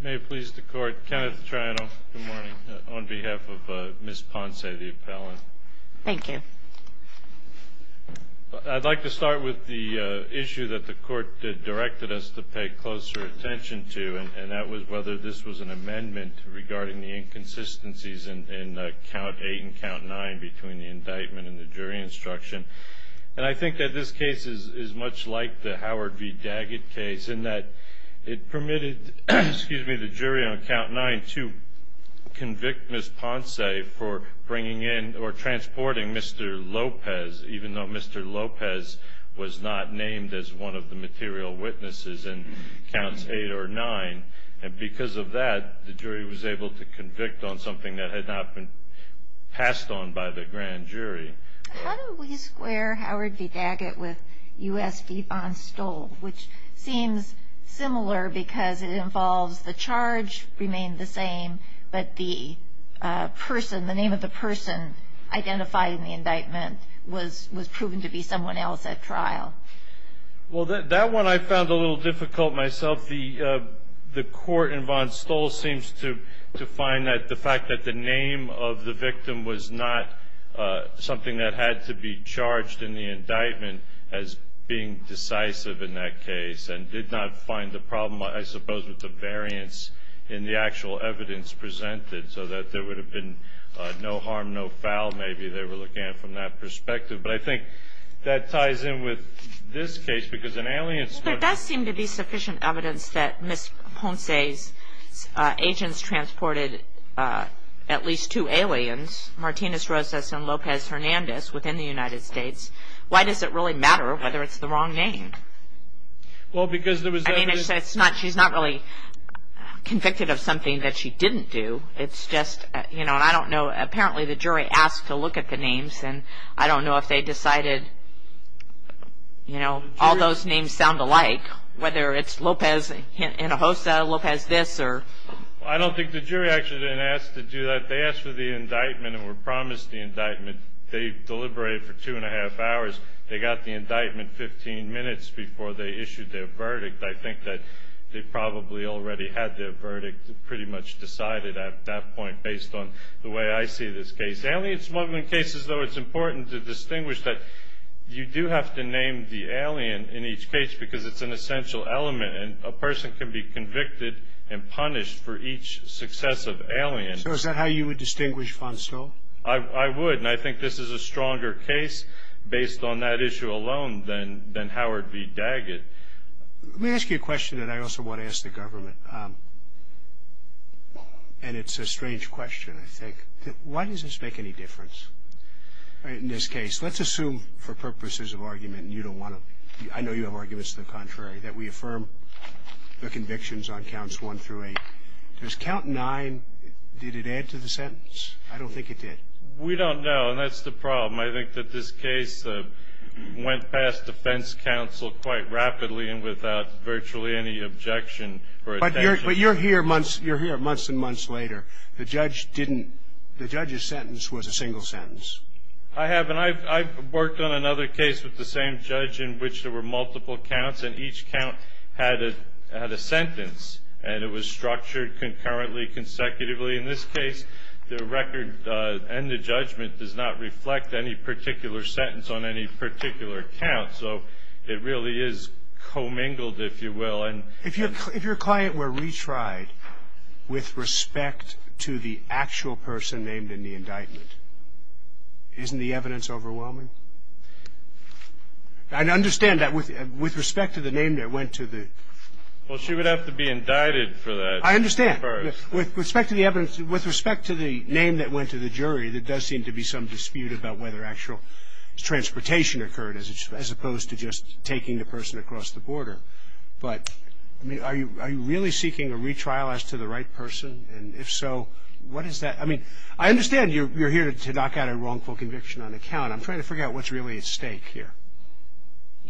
May it please the court, Kenneth Triano, good morning, on behalf of Ms. Ponce, the appellant. Thank you. I'd like to start with the issue that the court directed us to pay closer attention to, and that was whether this was an amendment regarding the inconsistencies in Count 8 and Count 9 between the indictment and the jury instruction. And I think that this case is much like the Howard v. Daggett case in that it permitted the jury on Count 9 to convict Ms. Ponce for bringing in or transporting Mr. Lopez, even though Mr. Lopez was not named as one of the material witnesses in Counts 8 or 9. And because of that, the jury was able to convict on something that had not been passed on by the grand jury. How do we square Howard v. Daggett with U.S. v. Von Stoll, which seems similar because it involves the charge remained the same, but the person, the name of the person identified in the indictment was proven to be someone else at trial? Well, that one I found a little difficult myself. The court in Von Stoll seems to find that the fact that the name of the victim was not something that had to be charged in the indictment as being decisive in that case and did not find the problem, I suppose, with the variance in the actual evidence presented, so that there would have been no harm, no foul, maybe, they were looking at from that perspective. But I think that ties in with this case, because in Alliant's court- There does seem to be sufficient evidence that Ms. Ponce's agents transported at least two aliens, Martinez-Rosas and Lopez-Hernandez, within the United States. Why does it really matter whether it's the wrong name? Well, because there was evidence- I mean, she's not really convicted of something that she didn't do. It's just, you know, I don't know. Apparently, the jury asked to look at the names, and I don't know if they decided, you know, all those names sound alike, whether it's Lopez-Hernandez, Lopez this or- I don't think the jury actually asked to do that. They asked for the indictment and were promised the indictment. They deliberated for two and a half hours. They got the indictment 15 minutes before they issued their verdict. I think that they probably already had their verdict pretty much decided at that point, based on the way I see this case. Alien smuggling cases, though, it's important to distinguish that you do have to name the alien in each case because it's an essential element, and a person can be convicted and punished for each successive alien. So is that how you would distinguish Fonsto? I would, and I think this is a stronger case based on that issue alone than Howard v. Daggett. Let me ask you a question that I also want to ask the government, and it's a strange question, I think. Why does this make any difference in this case? Let's assume for purposes of argument, and you don't want to-I know you have arguments to the contrary, that we affirm the convictions on counts one through eight. Does count nine, did it add to the sentence? I don't think it did. We don't know, and that's the problem. I think that this case went past defense counsel quite rapidly and without virtually any objection or attention. But you're here months and months later. The judge didn't-the judge's sentence was a single sentence. I have, and I've worked on another case with the same judge in which there were multiple counts, and each count had a sentence, and it was structured concurrently, consecutively. In this case, the record and the judgment does not reflect any particular sentence on any particular count, so it really is commingled, if you will. If your client were retried with respect to the actual person named in the indictment, isn't the evidence overwhelming? I understand that with respect to the name that went to the- Well, she would have to be indicted for that. I understand. With respect to the evidence-with respect to the name that went to the jury, there does seem to be some dispute about whether actual transportation occurred as opposed to just taking the person across the border. But, I mean, are you really seeking a retrial as to the right person? And if so, what is that? I mean, I understand you're here to knock out a wrongful conviction on a count. I'm trying to figure out what's really at stake here.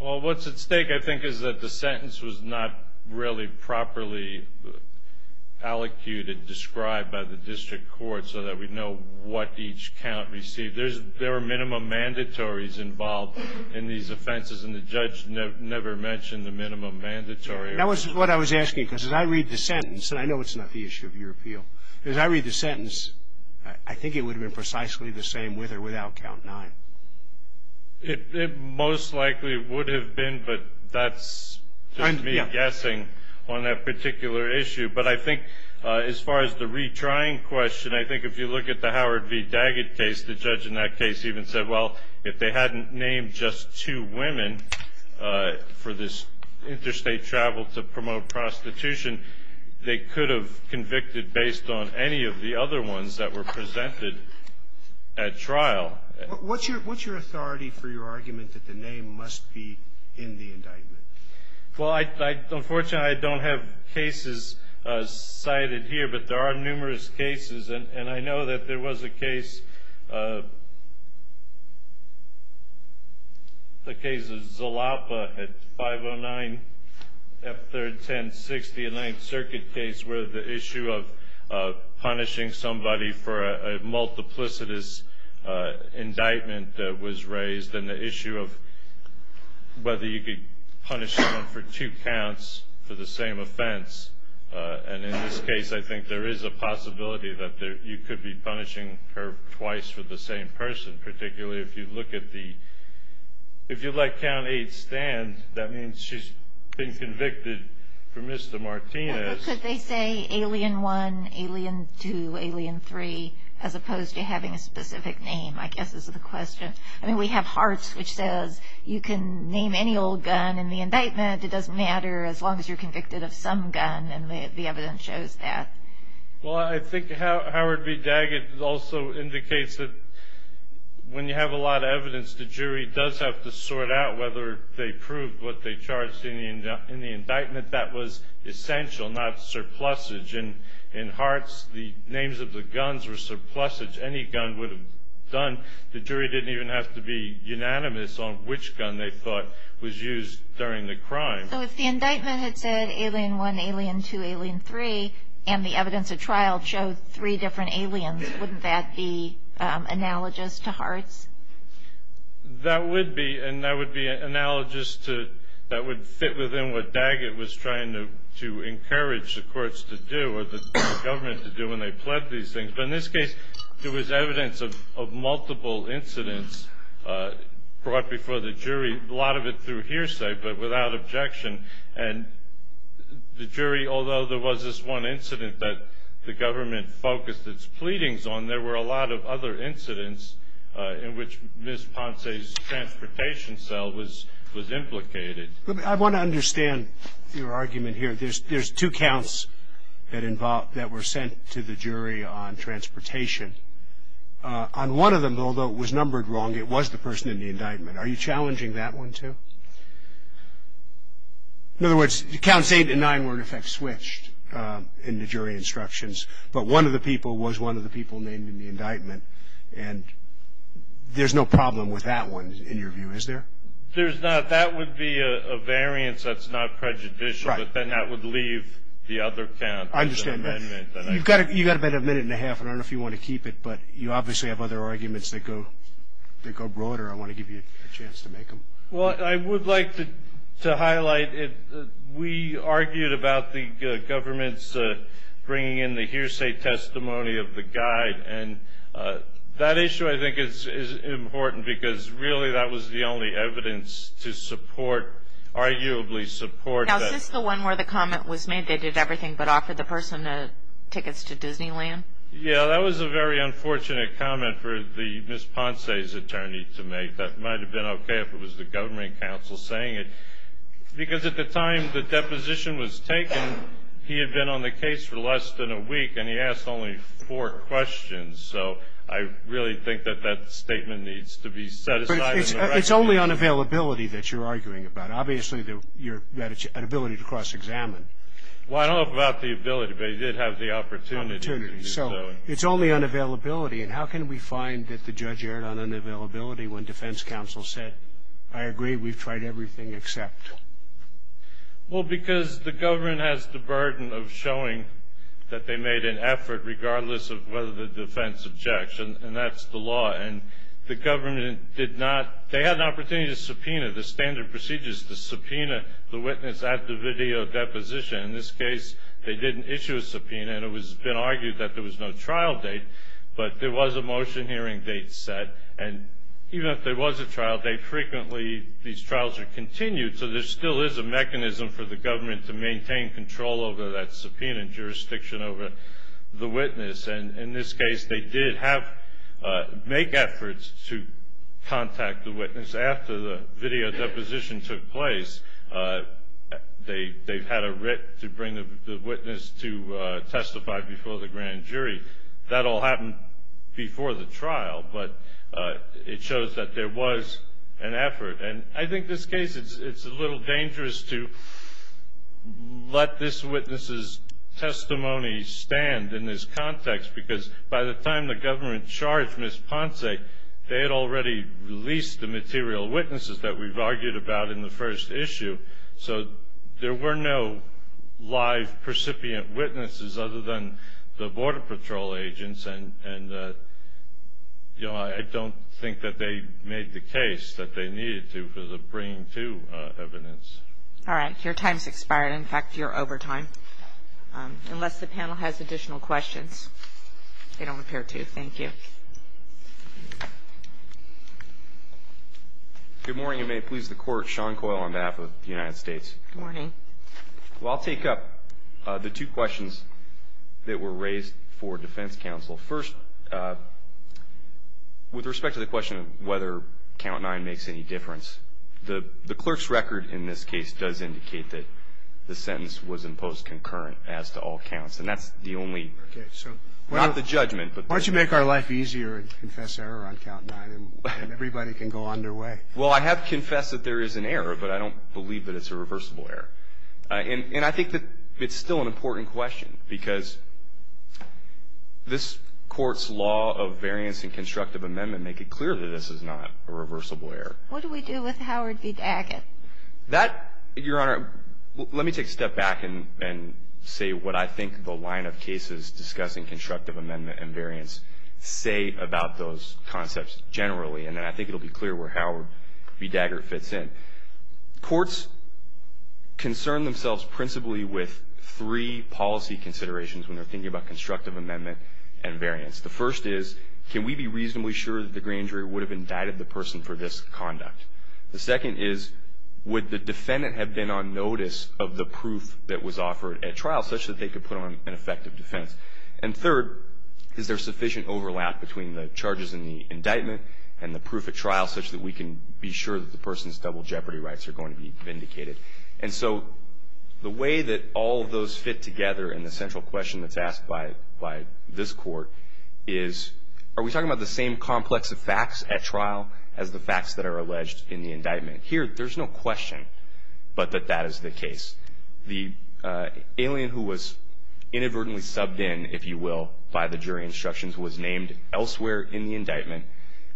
Well, what's at stake, I think, is that the sentence was not really properly allocated, described by the district court so that we know what each count received. There were minimum mandatories involved in these offenses, and the judge never mentioned the minimum mandatory. That was what I was asking, because as I read the sentence, and I know it's not the issue of your appeal. As I read the sentence, I think it would have been precisely the same with or without count nine. It most likely would have been, but that's just me guessing on that particular issue. But I think as far as the retrying question, I think if you look at the Howard v. Daggett case, the judge in that case even said, well, if they hadn't named just two women for this interstate travel to promote prostitution, they could have convicted based on any of the other ones that were presented at trial. What's your authority for your argument that the name must be in the indictment? Well, unfortunately, I don't have cases cited here, but there are numerous cases, and I know that there was a case, the case of Zalapa at 509 F-310-60, a Ninth Circuit case, where the issue of punishing somebody for a multiplicitous indictment was raised, and the issue of whether you could punish someone for two counts for the same offense. And in this case, I think there is a possibility that you could be punishing her twice for the same person, particularly if you look at the, if you let count eight stand, that means she's been convicted for Mr. Martinez. Could they say alien one, alien two, alien three, as opposed to having a specific name, I guess is the question. I mean, we have Hart's, which says you can name any old gun in the indictment. It doesn't matter as long as you're convicted of some gun, and the evidence shows that. Well, I think Howard B. Daggett also indicates that when you have a lot of evidence, the jury does have to sort out whether they proved what they charged in the indictment. That was essential, not surplusage. In Hart's, the names of the guns were surplusage. Any gun would have done. The jury didn't even have to be unanimous on which gun they thought was used during the crime. So if the indictment had said alien one, alien two, alien three, and the evidence of trial showed three different aliens, wouldn't that be analogous to Hart's? That would be, and that would be analogous to, that would fit within what Daggett was trying to encourage the courts to do or the government to do when they pled these things. But in this case, there was evidence of multiple incidents brought before the jury, a lot of it through hearsay but without objection. And the jury, although there was this one incident that the government focused its pleadings on, there were a lot of other incidents in which Ms. Ponce's transportation cell was implicated. I want to understand your argument here. There's two counts that were sent to the jury on transportation. On one of them, although it was numbered wrong, it was the person in the indictment. Are you challenging that one too? In other words, counts eight and nine were in effect switched in the jury instructions, but one of the people was one of the people named in the indictment, and there's no problem with that one in your view, is there? There's not. That would be a variance that's not prejudicial, but then that would leave the other count. I understand that. You've got about a minute and a half, and I don't know if you want to keep it, but you obviously have other arguments that go broader. I want to give you a chance to make them. Well, I would like to highlight we argued about the government's bringing in the hearsay testimony of the guide, and that issue I think is important because really that was the only evidence to support, arguably support that. Now, is this the one where the comment was made they did everything but offered the person tickets to Disneyland? Yeah. That was a very unfortunate comment for Ms. Ponce's attorney to make. That might have been okay if it was the government counsel saying it because at the time the deposition was taken, he had been on the case for less than a week, and he asked only four questions. So I really think that that statement needs to be set aside. It's only on availability that you're arguing about. Obviously you had an ability to cross-examine. Well, I don't know about the ability, but he did have the opportunity. Opportunity. So it's only on availability, and how can we find that the judge erred on unavailability when defense counsel said, I agree, we've tried everything except. Well, because the government has the burden of showing that they made an effort regardless of whether the defense objects, and that's the law. And the government did not, they had an opportunity to subpoena the standard procedures, to subpoena the witness at the video deposition. In this case, they didn't issue a subpoena, and it has been argued that there was no trial date, but there was a motion hearing date set, and even if there was a trial date, and frequently these trials are continued, so there still is a mechanism for the government to maintain control over that subpoena and jurisdiction over the witness. And in this case, they did make efforts to contact the witness after the video deposition took place. They've had a writ to bring the witness to testify before the grand jury. That all happened before the trial, but it shows that there was an effort. And I think this case, it's a little dangerous to let this witness's testimony stand in this context because by the time the government charged Ms. Ponce, they had already released the material witnesses that we've argued about in the first issue. So there were no live recipient witnesses other than the Border Patrol agents, and I don't think that they made the case that they needed to for the bringing to evidence. All right. Your time's expired. In fact, you're over time. Unless the panel has additional questions, they don't appear to. Thank you. Good morning. Sean Coyle on behalf of the United States. Good morning. Well, I'll take up the two questions that were raised for defense counsel. First, with respect to the question of whether count nine makes any difference, the clerk's record in this case does indicate that the sentence was imposed concurrent as to all counts, and that's the only, not the judgment. Why don't you make our life easier and confess error on count nine and everybody can go on their way? Well, I have confessed that there is an error, but I don't believe that it's a reversible error. And I think that it's still an important question because this Court's law of variance and constructive amendment make it clear that this is not a reversible error. What do we do with Howard v. Daggett? That, Your Honor, let me take a step back and say what I think the line of cases discussing constructive amendment and variance say about those concepts generally, and then I think it will be clear where Howard v. Daggett fits in. Courts concern themselves principally with three policy considerations when they're thinking about constructive amendment and variance. The first is, can we be reasonably sure that the grand jury would have indicted the person for this conduct? The second is, would the defendant have been on notice of the proof that was offered at trial such that they could put on an effective defense? And third, is there sufficient overlap between the charges in the indictment and the proof at trial such that we can be sure that the person's double jeopardy rights are going to be vindicated? And so the way that all of those fit together in the central question that's asked by this Court is, are we talking about the same complex of facts at trial as the facts that are alleged in the indictment? Here, there's no question but that that is the case. The alien who was inadvertently subbed in, if you will, by the jury instructions was named elsewhere in the indictment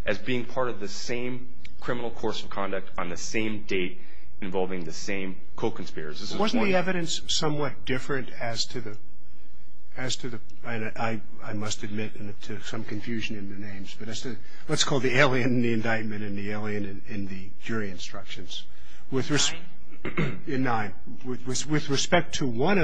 as being part of the same criminal course of conduct on the same date involving the same co-conspirators. Wasn't the evidence somewhat different as to the, I must admit to some confusion in the names, but let's call the alien in the indictment and the alien in the jury instructions. With respect to one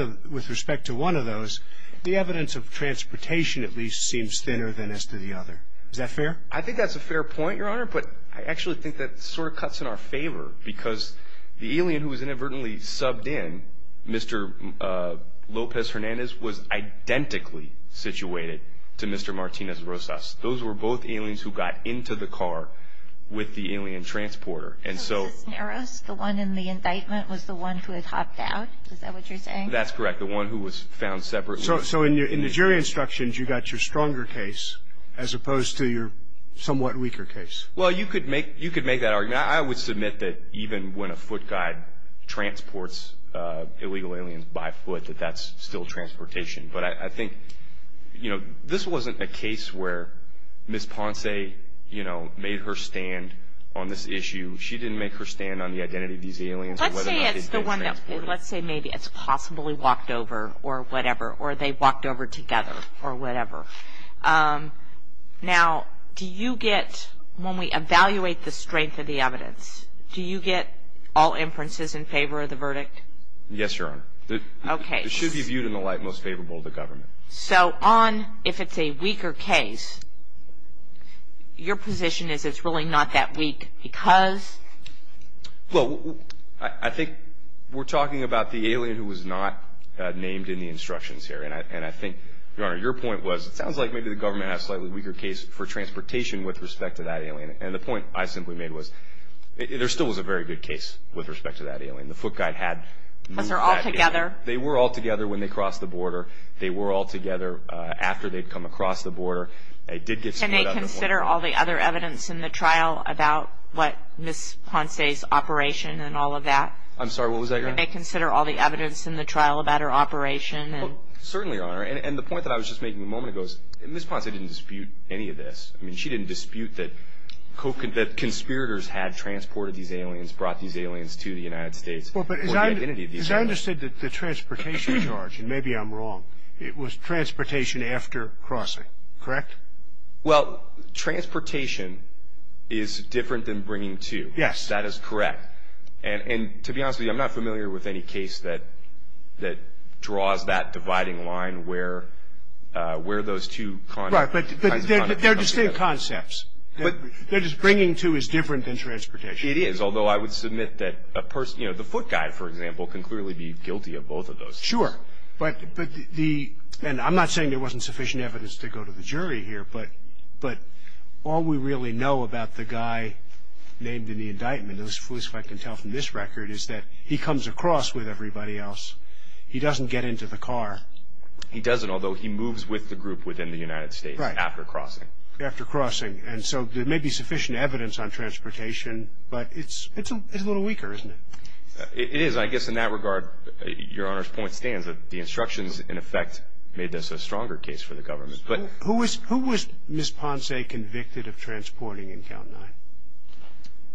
of those, the evidence of transportation at least seems thinner than as to the other. Is that fair? I think that's a fair point, Your Honor, but I actually think that sort of cuts in our favor because the alien who was inadvertently subbed in, Mr. Lopez-Hernandez, was identically situated to Mr. Martinez-Rosas. Those were both aliens who got into the car with the alien transporter. And so the one in the indictment was the one who had hopped out? Is that what you're saying? That's correct. The one who was found separately. So in the jury instructions, you got your stronger case as opposed to your somewhat weaker case? Well, you could make that argument. I would submit that even when a foot guide transports illegal aliens by foot, that that's still transportation. But I think, you know, this wasn't a case where Ms. Ponce, you know, made her stand on this issue. She didn't make her stand on the identity of these aliens. Let's say maybe it's possibly walked over or whatever, or they walked over together or whatever. Now, do you get, when we evaluate the strength of the evidence, do you get all inferences in favor of the verdict? Yes, Your Honor. Okay. It should be viewed in the light most favorable of the government. So on if it's a weaker case, your position is it's really not that weak because? Well, I think we're talking about the alien who was not named in the instructions here. And I think, Your Honor, your point was it sounds like maybe the government has a slightly weaker case for transportation with respect to that alien. And the point I simply made was there still was a very good case with respect to that alien. The foot guide had moved that alien. Because they're all together? They were all together when they crossed the border. They were all together after they'd come across the border. They did get split up at one point. Can they consider all the other evidence in the trial about what Ms. Ponce's operation and all of that? I'm sorry. What was that, Your Honor? Can they consider all the evidence in the trial about her operation? Well, certainly, Your Honor. And the point that I was just making a moment ago is Ms. Ponce didn't dispute any of this. I mean, she didn't dispute that conspirators had transported these aliens, brought these aliens to the United States for the identity of these aliens. Because I understood that the transportation charge, and maybe I'm wrong, it was transportation after crossing, correct? Well, transportation is different than bringing two. Yes. That is correct. And to be honest with you, I'm not familiar with any case that draws that dividing line where those two kinds of conduct come together. Right, but they're distinct concepts. They're just bringing two is different than transportation. It is. Although I would submit that the foot guy, for example, can clearly be guilty of both of those. Sure. And I'm not saying there wasn't sufficient evidence to go to the jury here, but all we really know about the guy named in the indictment, at least as far as I can tell from this record, is that he comes across with everybody else. He doesn't get into the car. He doesn't, although he moves with the group within the United States after crossing. After crossing. And so there may be sufficient evidence on transportation, but it's a little weaker, isn't it? It is. I guess in that regard, Your Honor's point stands that the instructions, in effect, made this a stronger case for the government. Who was Ms. Ponce convicted of transporting in Count 9?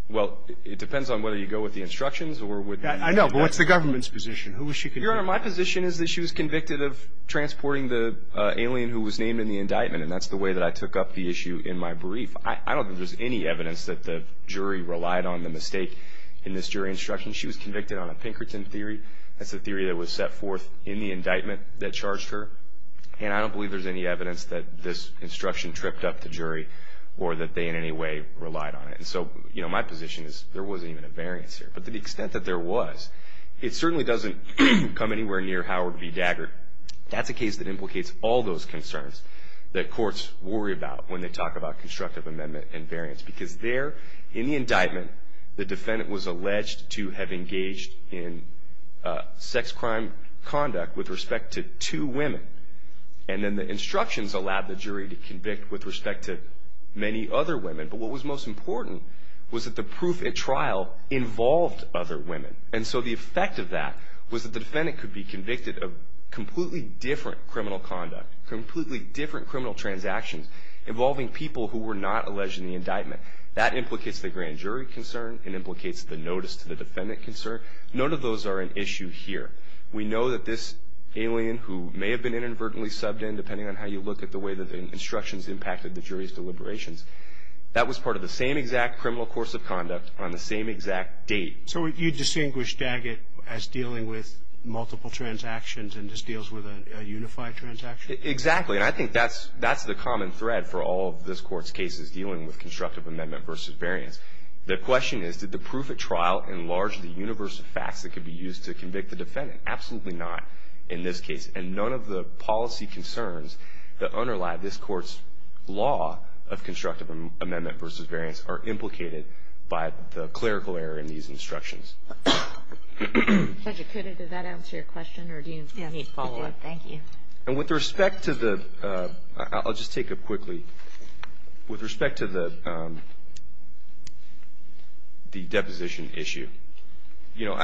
Well, it depends on whether you go with the instructions or with the indictment. I know, but what's the government's position? Who was she convicted of? Your Honor, my position is that she was convicted of transporting the alien who was named in the indictment, and that's the way that I took up the issue in my brief. I don't think there's any evidence that the jury relied on the mistake in this jury instruction. She was convicted on a Pinkerton theory. That's a theory that was set forth in the indictment that charged her, and I don't believe there's any evidence that this instruction tripped up the jury or that they in any way relied on it. And so, you know, my position is there wasn't even a variance here. But to the extent that there was, it certainly doesn't come anywhere near Howard v. Dagger. That's a case that implicates all those concerns that courts worry about when they talk about constructive amendment and variance. Because there, in the indictment, the defendant was alleged to have engaged in sex crime conduct with respect to two women. And then the instructions allowed the jury to convict with respect to many other women. But what was most important was that the proof at trial involved other women. And so the effect of that was that the defendant could be convicted of completely different criminal conduct, completely different criminal transactions involving people who were not alleged in the indictment. That implicates the grand jury concern. It implicates the notice to the defendant concern. None of those are an issue here. We know that this alien who may have been inadvertently subbed in, depending on how you look at the way that the instructions impacted the jury's deliberations, that was part of the same exact criminal course of conduct on the same exact date. So you distinguish Daggett as dealing with multiple transactions and just deals with a unified transaction? Exactly. And I think that's the common thread for all of this Court's cases dealing with constructive amendment versus variance. The question is, did the proof at trial enlarge the universe of facts that could be used to convict the defendant? Absolutely not in this case. And none of the policy concerns that underlie this Court's law of constructive amendment versus variance are implicated by the clerical error in these instructions. Judge Acuda, does that answer your question, or do you need follow-up? Yes, it does. Thank you. And with respect to the ‑‑ I'll just take it quickly. With respect to the deposition issue, you know,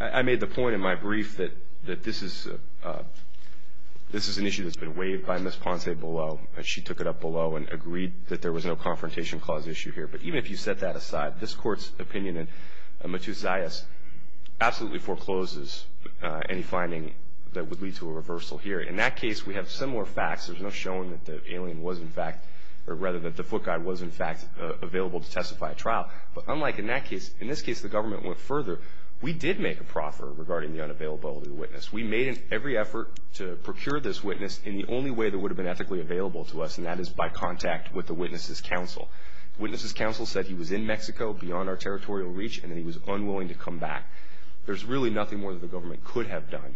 I made the point in my brief that this is an issue that's been waived by Ms. Ponce-Below. She took it up below and agreed that there was no confrontation clause issue here. But even if you set that aside, this Court's opinion in Matus Zayas absolutely forecloses any finding that would lead to a reversal here. In that case, we have similar facts. There's no showing that the alien was in fact ‑‑ or rather that the foot guy was in fact available to testify at trial. But unlike in that case, in this case the government went further. We did make a proffer regarding the unavailability of the witness. We made every effort to procure this witness in the only way that would have been ethically available to us, and that is by contact with the witness's counsel. The witness's counsel said he was in Mexico, beyond our territorial reach, and that he was unwilling to come back. There's really nothing more that the government could have done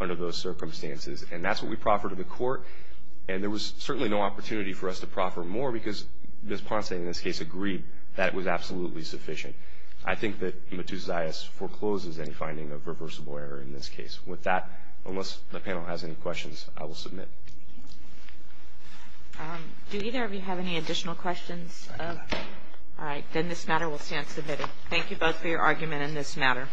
under those circumstances. And that's what we proffered to the Court. And there was certainly no opportunity for us to proffer more because Ms. Ponce, in this case, agreed that it was absolutely sufficient. I think that Matus Zayas forecloses any finding of reversible error in this case. With that, unless the panel has any questions, I will submit. Do either of you have any additional questions? All right. Then this matter will stand submitted. Thank you both for your argument in this matter.